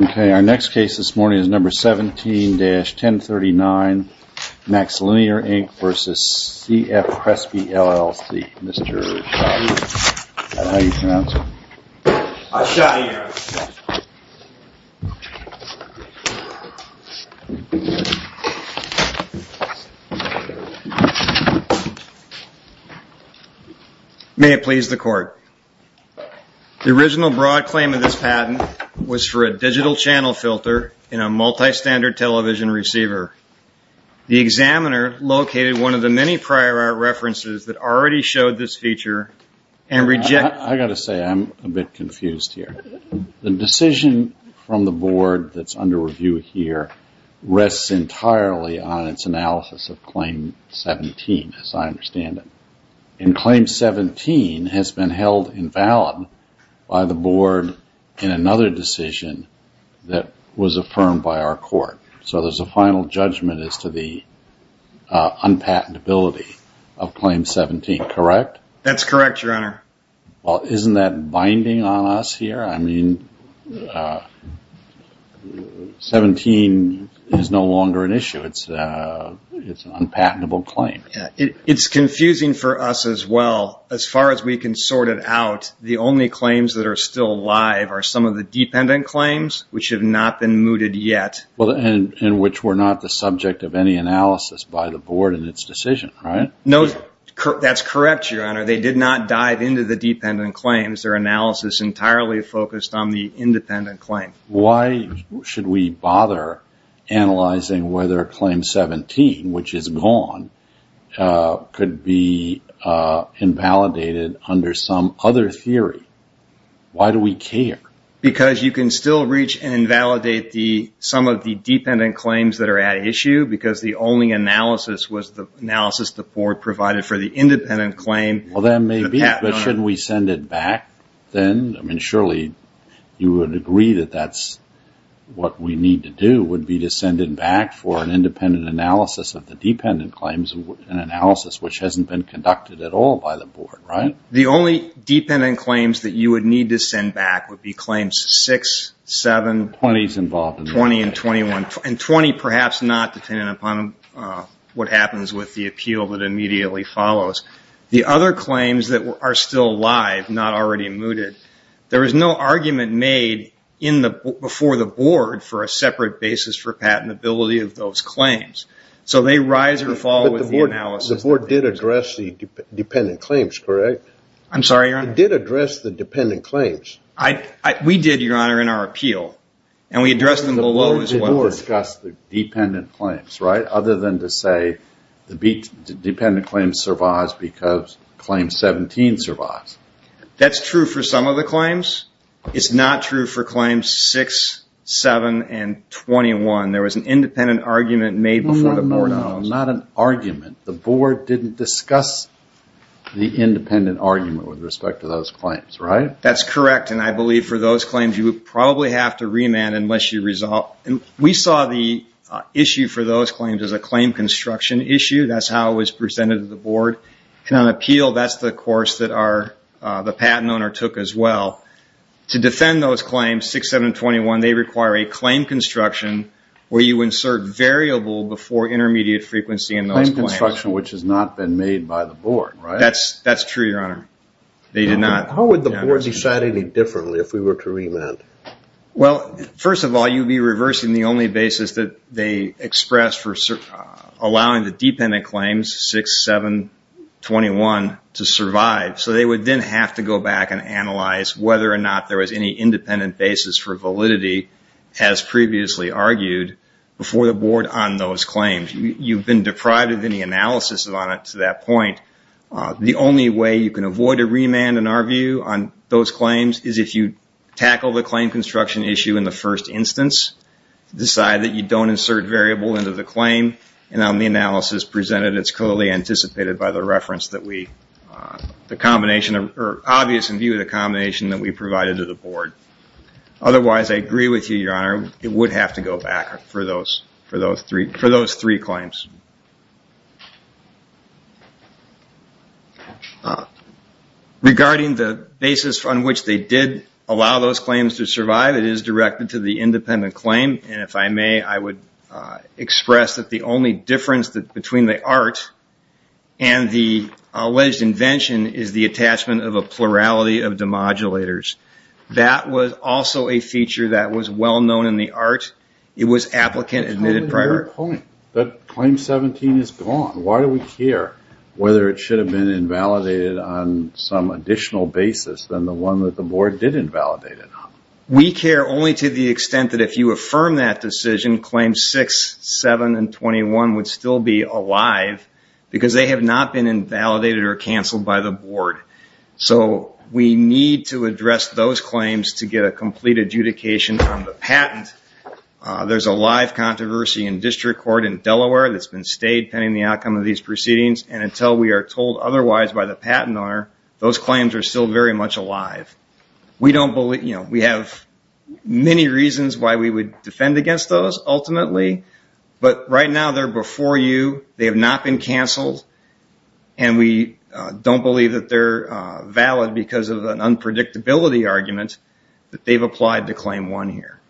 Okay, our next case this morning is number 17-1039, MaxLinear, Inc. v. CF CRESPE LLC. May it please the Court. The original broad claim of this patent was for a digital channel filter in a multi-standard television receiver. The examiner located one of the many prior references that already showed this feature and rejected- I've got to say, I'm a bit confused here. The decision from the Board that's under review here rests entirely on its analysis of Claim 17, as I understand it. And Claim 17 has been held invalid by the Board in another decision that was affirmed by our Court. So there's a final judgment as to the unpatentability of Claim 17, correct? That's correct, Your Honor. Well, isn't that binding on us here? I mean, 17 is no longer an issue. It's an unpatentable claim. It's confusing for us as well. As far as we can sort it out, the only claims that are still alive are some of the dependent claims, which have not been mooted yet. And which were not the subject of any analysis by the Board in its decision, right? No, that's correct, Your Honor. They did not dive into the dependent claims. Their analysis entirely focused on the independent claim. Why should we bother analyzing whether Claim 17, which is gone, could be invalidated under some other theory? Why do we care? Because you can still reach and invalidate some of the dependent claims that are at issue because the only analysis was the analysis the Board provided for the independent claim. Well, that may be, but shouldn't we send it back then? I mean, surely you would agree that that's what we need to do, would be to send it back for an independent analysis of the dependent claims, an analysis which hasn't been conducted at all by the Board, right? The only dependent claims that you would need to send back would be Claims 6, 7, 20, and 21. And 20 perhaps not, depending upon what happens with the appeal that immediately follows. The other claims that are still alive, not already mooted, there is no argument made in the, before the Board for a separate basis for patentability of those claims. So they rise or fall with the analysis. The Board did address the dependent claims, correct? I'm sorry, Your Honor? It did address the dependent claims. We did, Your Honor, in our appeal. And we addressed them below as well. The Board did not discuss the dependent claims, right? Other than to say the dependent claim survives because Claim 17 survives. That's true for some of the claims. It's not true for Claims 6, 7, and 21. There was an independent argument made before the Board. No, not an argument. The Board didn't discuss the independent argument with respect to those claims, right? That's correct. And I believe for those claims, you would probably have to remand unless you resolve. We saw the issue for those claims as a claim construction issue. That's how it was presented to the Board. And on appeal, that's the course that the patent owner took as well. To defend those claims, 6, 7, and 21, they require a claim construction where you insert variable before intermediate frequency in those claims. A claim construction which has not been made by the Board, right? That's true, Your Honor. They did not. How would the Board decide any differently if we were to remand? Well, first of all, you'd be reversing the only basis that they expressed for allowing the dependent claims, 6, 7, and 21, to survive. So they would then have to go back and analyze whether or not there was any independent basis for validity, as previously argued, before the Board on those claims. You've been deprived of any analysis on it to that point. The only way you can avoid a remand, in our view, on those claims is if you tackle the claim construction issue in the first instance, decide that you don't insert variable into the claim, and on the analysis presented, it's clearly anticipated by the reference that we, the combination or obvious in view of the combination that we provided to the Board. Otherwise, I agree with you, Your Honor, it would have to go back for those three claims. Regarding the basis on which they did allow those claims to survive, it is directed to the independent claim, and if I may, I would express that the only difference between the alleged invention is the attachment of a plurality of demodulators. That was also a feature that was well-known in the art. It was applicant-admitted prior. That's only your point. That Claim 17 is gone. Why do we care whether it should have been invalidated on some additional basis than the one that the Board did invalidate it on? We care only to the extent that if you affirm that decision, Claims 6, 7, and 21 would still be alive because they have not been invalidated or canceled by the Board. So we need to address those claims to get a complete adjudication on the patent. There's a live controversy in district court in Delaware that's been stayed pending the outcome of these proceedings, and until we are told otherwise by the patent owner, those claims are still very much alive. We have many reasons why we would defend against those, ultimately, but right now they're before you, they have not been canceled, and we don't believe that they're valid because of an unpredictability argument that they've applied to Claim 1 here.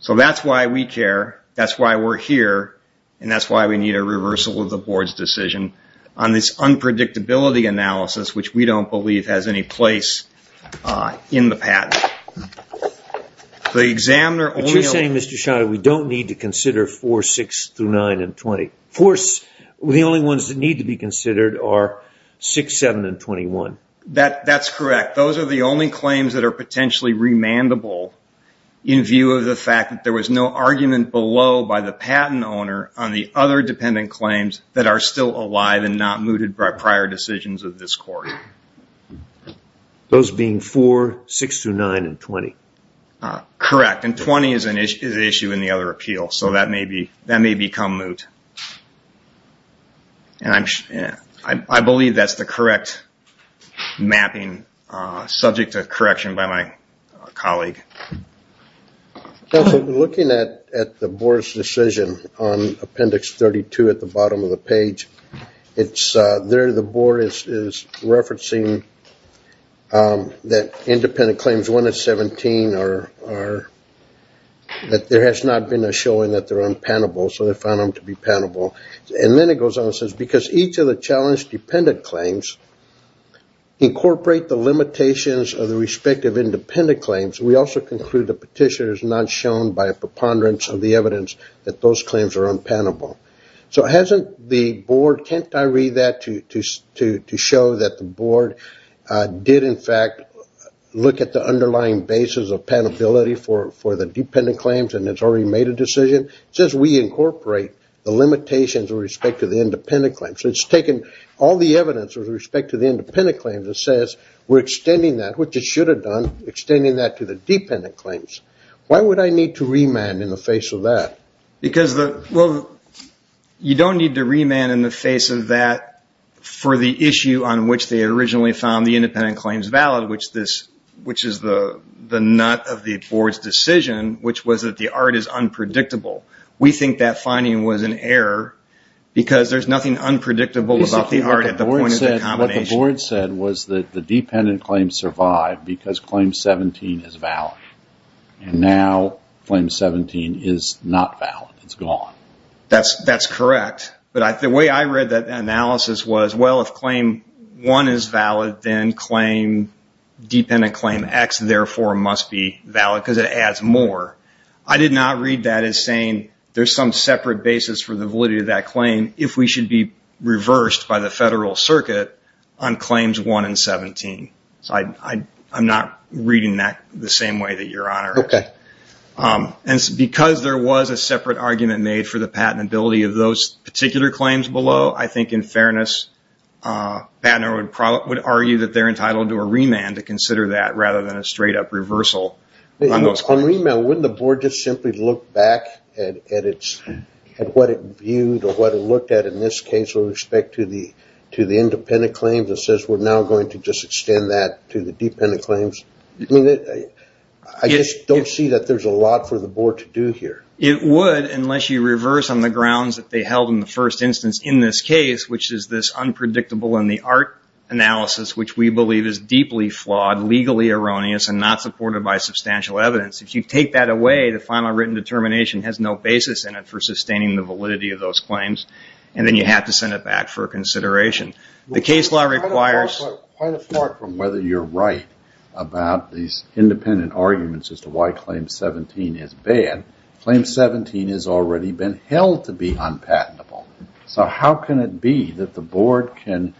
So that's why we care, that's why we're here, and that's why we need a reversal of the Board's decision on this unpredictability analysis which we don't believe has any place in the patent. But you're saying, Mr. Schott, we don't need to consider 4, 6, through 9, and 20. The only ones that need to be considered are 6, 7, and 21. That's correct. Those are the only claims that are potentially remandable in view of the fact that there was no argument below by the patent owner on the other dependent claims that are still alive and not mooted by prior decisions of this court. Those being 4, 6, through 9, and 20. Correct, and 20 is an issue in the other appeal, so that may become moot. I believe that's the correct mapping, subject to correction by my colleague. Looking at the Board's decision on Appendix 32 at the bottom of the page, there the Board is referencing that independent claims 1 and 17 are, that there has not been a showing that they're unpenable, so they found them to be penable. And then it goes on and says, because each of the challenge dependent claims incorporate the limitations of the respective independent claims, we also conclude the petitioner is not shown by a preponderance of the evidence that those claims are unpenable. So hasn't the Board, can't I read that to show that the Board did, in fact, look at the underlying basis of penability for the dependent claims and has already made a decision? It says we incorporate the limitations with respect to the independent claims. So it's taken all the evidence with respect to the independent claims and says we're extending that, which it should have done, extending that to the dependent claims. Why would I need to remand in the face of that? Because the, well, you don't need to remand in the face of that for the issue on which they originally found the independent claims valid, which is the nut of the Board's decision, which was that the art is unpredictable. We think that finding was an error because there's nothing unpredictable about the art at the point of the combination. What the Board said was that the dependent claims survived because claim 17 is valid. And now claim 17 is not valid, it's gone. That's correct. But the way I read that analysis was, well, if claim 1 is valid, then claim, dependent claim X, therefore, must be valid because it adds more. I did not read that as saying there's some separate basis for the validity of that claim if we should be reversed by the Federal Circuit on claims 1 and 17. So I'm not reading that the same way that your Honor is. Okay. And because there was a separate argument made for the patentability of those particular claims below, I think in fairness, Pat and I would argue that they're entitled to a remand to consider that rather than a straight up reversal on those claims. On remand, wouldn't the Board just simply look back at what it viewed or what it looked at in this case with respect to the independent claims and says, we're now going to just extend that to the dependent claims? I just don't see that there's a lot for the Board to do here. It would, unless you reverse on the grounds that they held in the first instance in this case, which is this unpredictable in the art analysis, which we believe is deeply flawed, legally erroneous, and not supported by substantial evidence. If you take that away, the final written determination has no basis in it for sustaining the validity of those claims, and then you have to send it back for consideration. The case law requires... Well, quite apart from whether you're right about these independent arguments as to why Claim 17 is bad, Claim 17 has already been held to be unpatentable. So how can it be that the Board can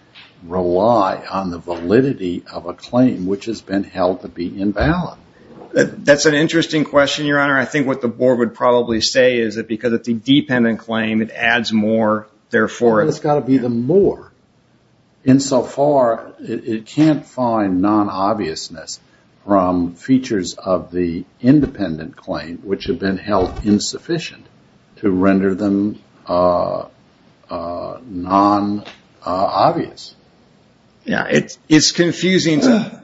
rely on the validity of a claim which has been held to be invalid? That's an interesting question, Your Honor. I think what the Board would probably say is that because it's a dependent claim, it adds more. Therefore... It's got to be the more. In so far, it can't find non-obviousness from features of the independent claim which have been held insufficient to render them non-obvious. Yeah, it's confusing to...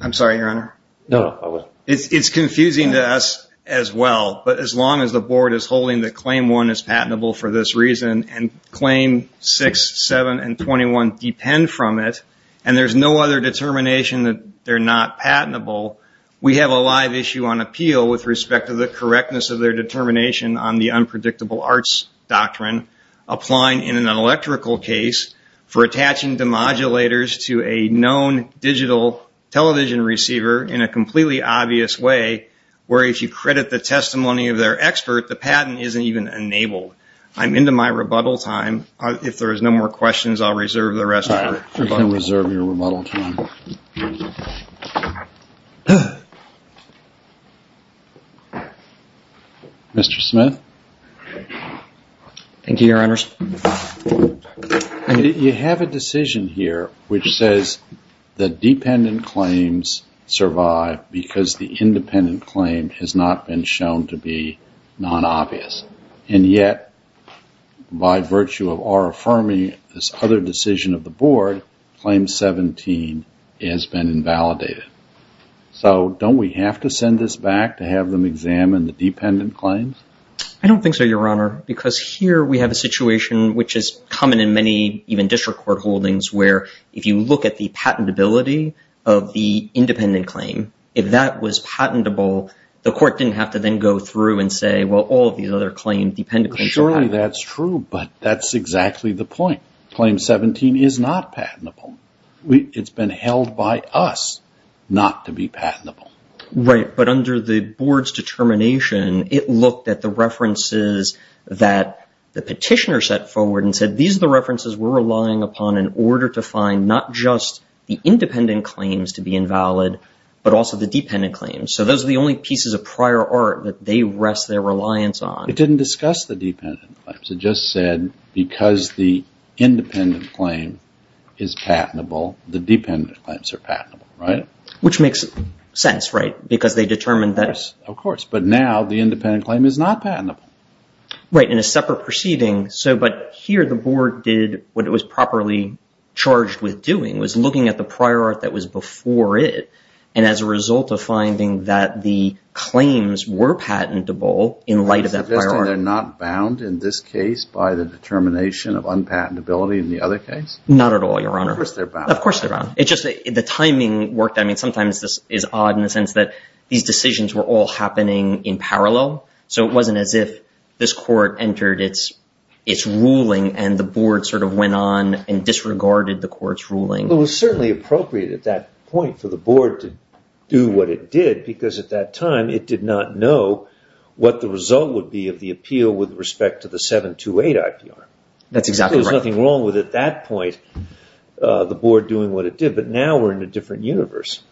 I'm sorry, Your Honor. No, no, I wasn't. It's confusing to us as well, but as long as the Board is holding that Claim 1 is patentable for this reason, and Claim 6, 7, and 21 depend from it, and there's no other determination that they're not patentable, we have a live issue on appeal with respect to the correctness of their determination on the Unpredictable Arts Doctrine applying in an electrical case for attaching demodulators to a known digital television receiver in a completely obvious way where if you credit the testimony of their expert, the patent isn't even enabled. I'm into my rebuttal time. If there's no more questions, I'll reserve the rest of my rebuttal time. You can reserve your rebuttal time. Mr. Smith? Thank you, Your Honors. You have a decision here which says the dependent claims survive because the independent claim has not been shown to be non-obvious, and yet by virtue of our affirming this other decision of the Board, Claim 17 has been invalidated. So don't we have to send this back to have them examine the dependent claims? I don't think so, Your Honor, because here we have a situation which is common in many even district court holdings where if you look at the patentability of the independent claim, if that was patentable, the court didn't have to then go through and say, well, all of these other claim dependent claims are patentable. Surely that's true, but that's exactly the point. Claim 17 is not patentable. It's been held by us not to be patentable. Right. But under the Board's determination, it looked at the references that the petitioner set forward and said, these are the references we're relying upon in order to find not just the independent claims to be invalid, but also the dependent claims. So those are the only pieces of prior art that they rest their reliance on. It didn't discuss the dependent claims. It just said because the independent claim is patentable, the dependent claims are patentable, right? Which makes sense, right? Of course. But now the independent claim is not patentable. Right. In a separate proceeding. But here the Board did what it was properly charged with doing, was looking at the prior art that was before it, and as a result of finding that the claims were patentable in light of that prior art. Are you suggesting they're not bound in this case by the determination of unpatentability in the other case? Not at all, Your Honor. Of course they're bound. Of course they're bound. The timing worked. I mean, sometimes this is odd in the sense that these decisions were all happening in parallel. So it wasn't as if this Court entered its ruling and the Board sort of went on and disregarded the Court's ruling. It was certainly appropriate at that point for the Board to do what it did because at that time it did not know what the result would be of the appeal with respect to the 728 IPR. That's exactly right. It didn't know at that point the Board doing what it did, but now we're in a different universe.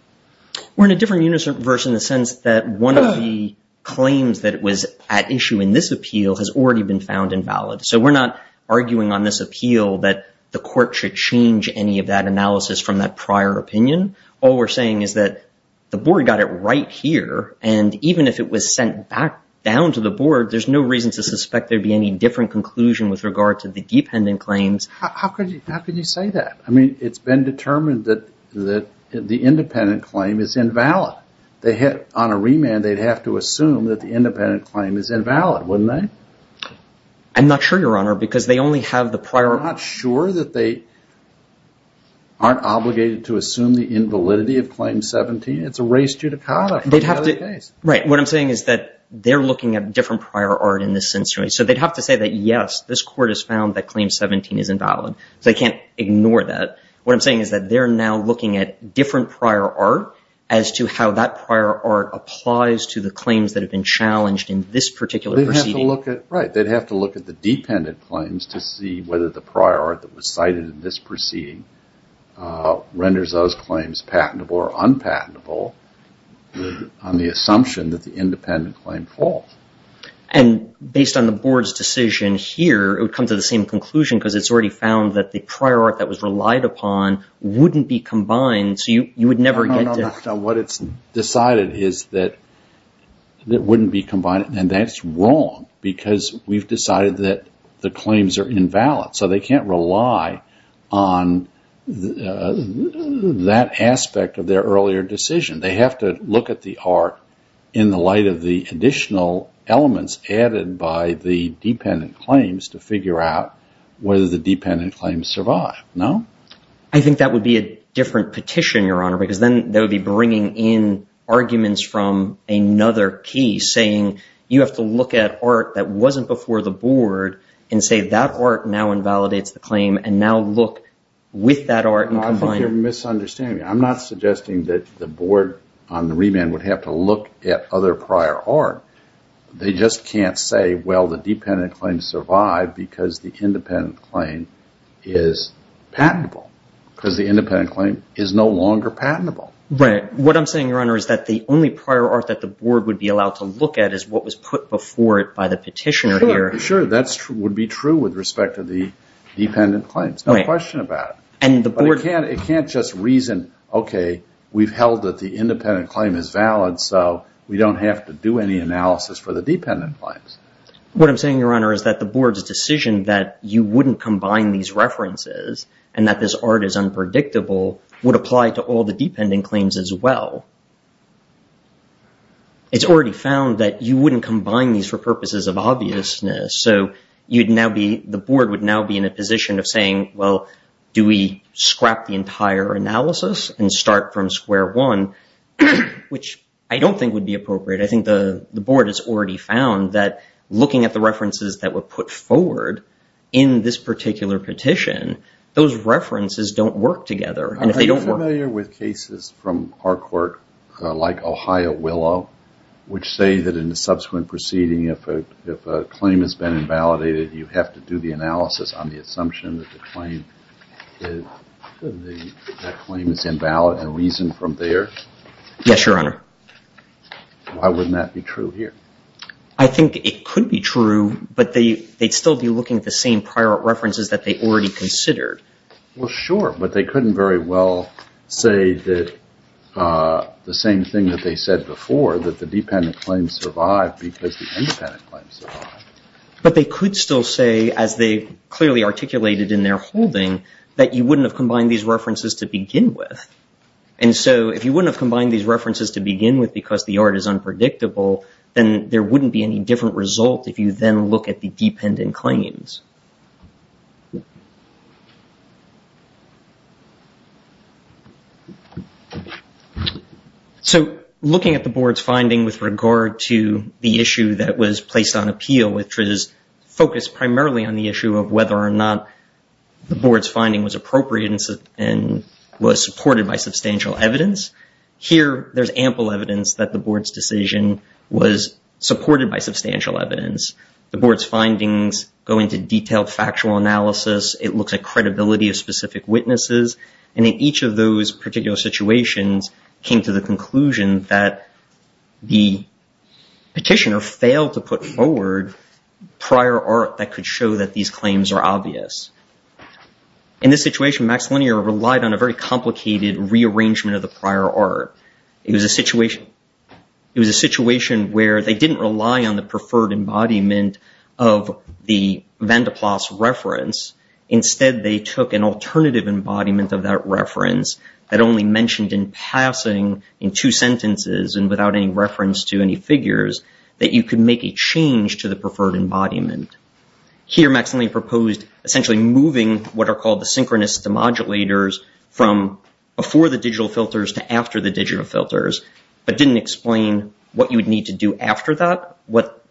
We're in a different universe in the sense that one of the claims that was at issue in this appeal has already been found invalid. So we're not arguing on this appeal that the Court should change any of that analysis from that prior opinion. All we're saying is that the Board got it right here, and even if it was sent back down to the Board, there's no reason to suspect there'd be any different conclusion with regard to the dependent claims. How could you say that? I mean, it's been determined that the independent claim is invalid. On a remand, they'd have to assume that the independent claim is invalid, wouldn't they? I'm not sure, Your Honor, because they only have the prior. You're not sure that they aren't obligated to assume the invalidity of Claim 17? It's a race judicata. Right. What I'm saying is that they're looking at different prior art in this instance. So they'd have to say that, yes, this Court has found that Claim 17 is invalid, so they can't ignore that. What I'm saying is that they're now looking at different prior art as to how that prior art applies to the claims that have been challenged in this particular proceeding. Right. They'd have to look at the dependent claims to see whether the prior art that was cited in this proceeding renders those claims patentable or unpatentable on the assumption that the independent claim falls. And based on the Board's decision here, it would come to the same conclusion because it's already found that the prior art that was relied upon wouldn't be combined, so you would never get to... No, no, no. What it's decided is that it wouldn't be combined, and that's wrong because we've decided that the claims are invalid. So they can't rely on that aspect of their earlier decision. They have to look at the art in the light of the additional elements added by the dependent claims to figure out whether the dependent claims survive, no? I think that would be a different petition, Your Honor, because then they would be bringing in arguments from another case, saying you have to look at art that wasn't before the Board and say that art now invalidates the claim and now look with that art and combine... No, I think you're misunderstanding me. I'm not suggesting that the Board on the remand would have to look at other prior art. They just can't say, well, the dependent claim survived because the independent claim is patentable, because the independent claim is no longer patentable. What I'm saying, Your Honor, is that the only prior art that the Board would be allowed to look at is what was put before it by the petitioner here. Sure, sure. That would be true with respect to the dependent claims, no question about it. It can't just reason, okay, we've held that the independent claim is valid, so we don't have to do any analysis for the dependent claims. What I'm saying, Your Honor, is that the Board's decision that you wouldn't combine these references and that this art is unpredictable would apply to all the dependent claims as well. It's already found that you wouldn't combine these for purposes of obviousness, so the scrapped the entire analysis and start from square one, which I don't think would be appropriate. I think the Board has already found that looking at the references that were put forward in this particular petition, those references don't work together, and if they don't work I'm familiar with cases from our court like Ohio Willow, which say that in the subsequent proceeding, if a claim has been invalidated, you have to do the analysis on the assumption that the claim is invalid and reason from there. Yes, Your Honor. Why wouldn't that be true here? I think it could be true, but they'd still be looking at the same prior references that they already considered. Well, sure, but they couldn't very well say that the same thing that they said before, that the dependent claims survived because the independent claims survived. But they could still say, as they clearly articulated in their holding, that you wouldn't have combined these references to begin with, and so if you wouldn't have combined these references to begin with because the art is unpredictable, then there wouldn't be any different result if you then look at the dependent claims. So, looking at the Board's finding with regard to the issue that was placed on appeal, which was focused primarily on the issue of whether or not the Board's finding was appropriate and was supported by substantial evidence, here there's ample evidence that the Board's decision was supported by substantial evidence. It looks at detailed factual analysis. It looks at credibility of specific witnesses, and in each of those particular situations, it came to the conclusion that the petitioner failed to put forward prior art that could show that these claims are obvious. In this situation, Max Linear relied on a very complicated rearrangement of the prior art. It was a situation where they didn't rely on the preferred embodiment of the van der Plaats reference. Instead, they took an alternative embodiment of that reference that only mentioned in passing in two sentences and without any reference to any figures that you could make a change to the preferred embodiment. Here, Max Linear proposed essentially moving what are called the synchronous demodulators from before the digital filters to after the digital filters, but didn't explain what you would need to do after that. What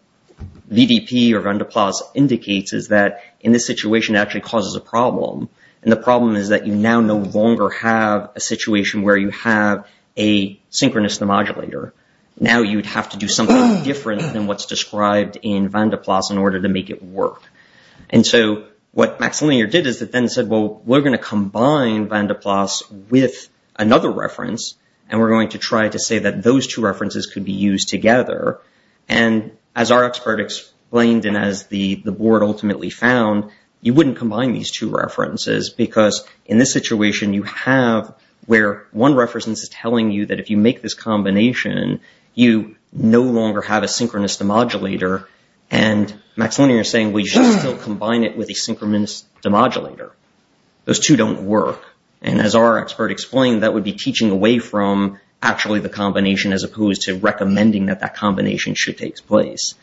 VDP or van der Plaats indicates is that in this situation, it actually causes a problem, and the problem is that you now no longer have a situation where you have a synchronous demodulator. Now, you would have to do something different than what's described in van der Plaats in order to make it work. What Max Linear did is that then said, well, we're going to combine van der Plaats with another reference, and we're going to try to say that those two references could be used together. As our expert explained and as the board ultimately found, you wouldn't combine these two references because in this situation, you have where one reference is telling you that if you make this combination, you no longer have a synchronous demodulator. And Max Linear is saying we should still combine it with a synchronous demodulator. Those two don't work. And as our expert explained, that would be teaching away from actually the combination as opposed to recommending that that combination should take place.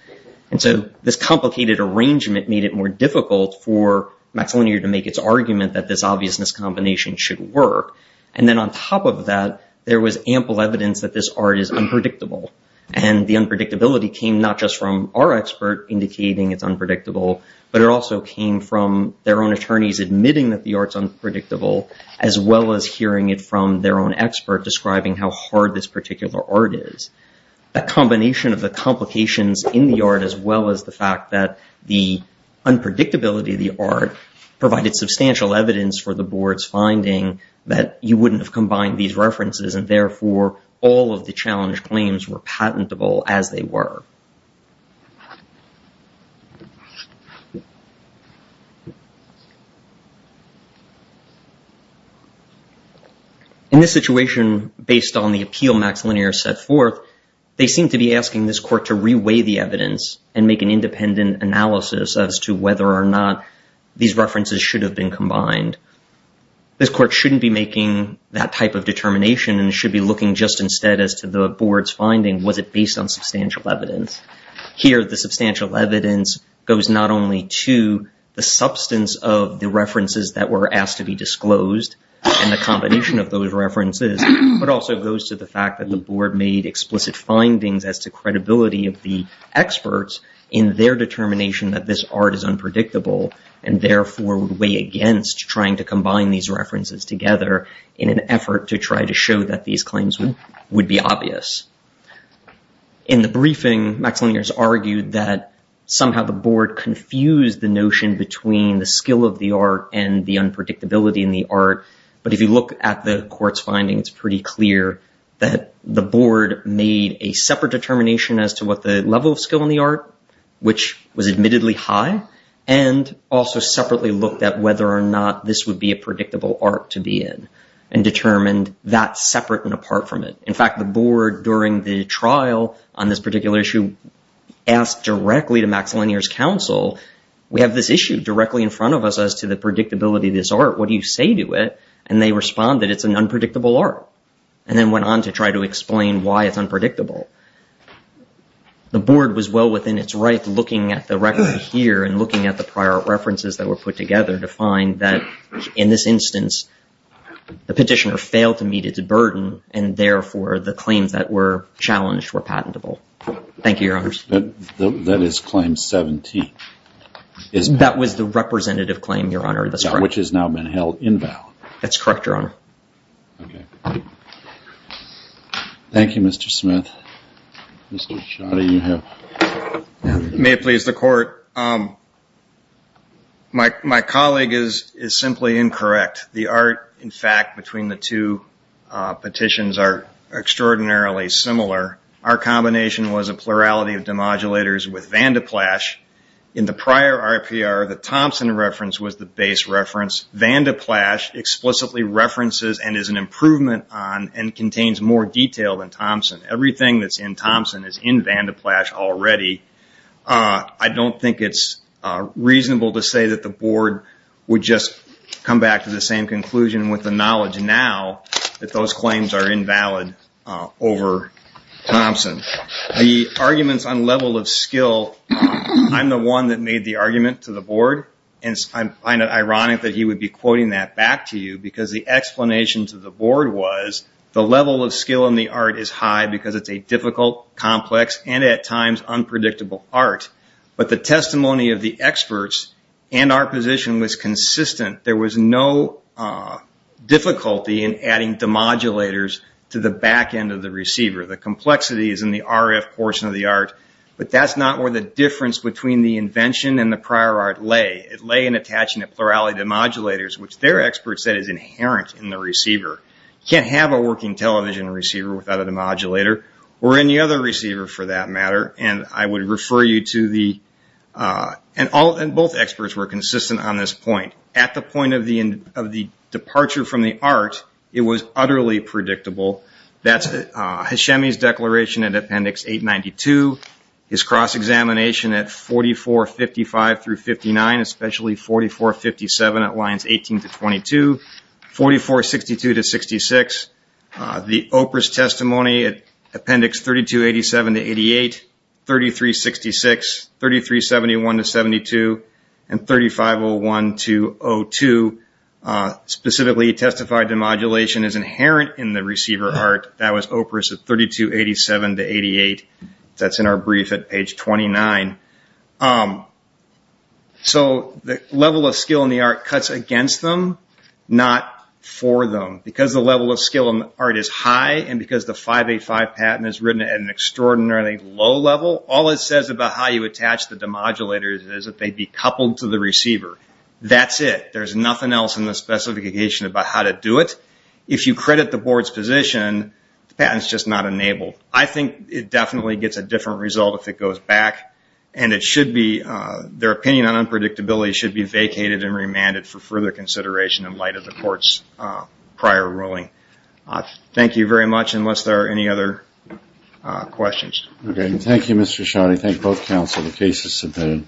And so this complicated arrangement made it more difficult for Max Linear to make its argument that this obviousness combination should work. And then on top of that, there was ample evidence that this art is unpredictable. And the unpredictability came not just from our expert indicating it's unpredictable, but it also came from their own attorneys admitting that the art is unpredictable, as well as hearing it from their own expert describing how hard this particular art is. The combination of the complications in the art as well as the fact that the unpredictability of the art provided substantial evidence for the board's finding that you were patentable as they were. In this situation, based on the appeal Max Linear set forth, they seem to be asking this court to reweigh the evidence and make an independent analysis as to whether or not these references should have been combined. This court shouldn't be making that type of determination and should be looking just instead as to the board's finding. Was it based on substantial evidence? Here, the substantial evidence goes not only to the substance of the references that were asked to be disclosed and the combination of those references, but also goes to the fact that the board made explicit findings as to credibility of the experts in their determination that this art is unpredictable and therefore would weigh against trying to In the briefing, Max Linear has argued that somehow the board confused the notion between the skill of the art and the unpredictability in the art. But if you look at the court's findings, it's pretty clear that the board made a separate determination as to what the level of skill in the art, which was admittedly high, and also separately looked at whether or not this would be a predictable art to be in and determined that separate and apart from it. In fact, the board during the trial on this particular issue asked directly to Max Linear's counsel, we have this issue directly in front of us as to the predictability of this art. What do you say to it? And they responded, it's an unpredictable art, and then went on to try to explain why it's unpredictable. The board was well within its right looking at the record here and looking at the prior references that were put together to find that in this instance, the petitioner failed to meet its burden. And therefore, the claims that were challenged were patentable. Thank you, Your Honors. That is claim 17. That was the representative claim, Your Honor. That's correct. Which has now been held invalid. That's correct, Your Honor. OK. Thank you, Mr. Smith. Mr. Sciotti, you have. May it please the court. My colleague is simply incorrect. The art, in fact, between the two petitions are extraordinarily similar. Our combination was a plurality of demodulators with Van de Plasche. In the prior RPR, the Thompson reference was the base reference. Van de Plasche explicitly references and is an improvement on and contains more detail than Thompson. Everything that's in Thompson is in Van de Plasche already. I don't think it's reasonable to say that the board would just come back to the same conclusion with the knowledge now that those claims are invalid over Thompson. The arguments on level of skill, I'm the one that made the argument to the board. I find it ironic that he would be quoting that back to you because the explanation to the board was the level of skill in the art is high because it's a difficult, complex, and at times unpredictable art. But the testimony of the experts and our position was consistent. There was no difficulty in adding demodulators to the back end of the receiver. The complexity is in the RF portion of the art, but that's not where the difference between the invention and the prior art lay. It lay in attaching a plurality of demodulators, which their experts said is inherent in the receiver. You can't have a working television receiver without a demodulator or any other receiver for that matter. I would refer you to the... Both experts were consistent on this point. At the point of the departure from the art, it was utterly predictable. That's Hashemi's declaration at Appendix 892, his cross-examination at 4455 through 59, especially 4457 at lines 18 to 22, 4462 to 66. The OPRAS testimony at Appendix 3287 to 88, 3366, 3371 to 72, and 3501 to 02 specifically testified demodulation is inherent in the receiver art. That was OPRAS at 3287 to 88. That's in our brief at page 29. So the level of skill in the art cuts against them, not for them. Because the level of skill in the art is high and because the 585 patent is written at an extraordinarily low level, all it says about how you attach the demodulators is that they be coupled to the receiver. That's it. There's nothing else in the specification about how to do it. If you credit the board's position, the patent is just not enabled. I think it definitely gets a different result if it goes back, and it should be... Their opinion on unpredictability should be vacated and remanded for further consideration in light of the court's prior ruling. Thank you very much, unless there are any other questions. Okay. Thank you, Mr. Shaw. I thank both counsel. The case is submitted.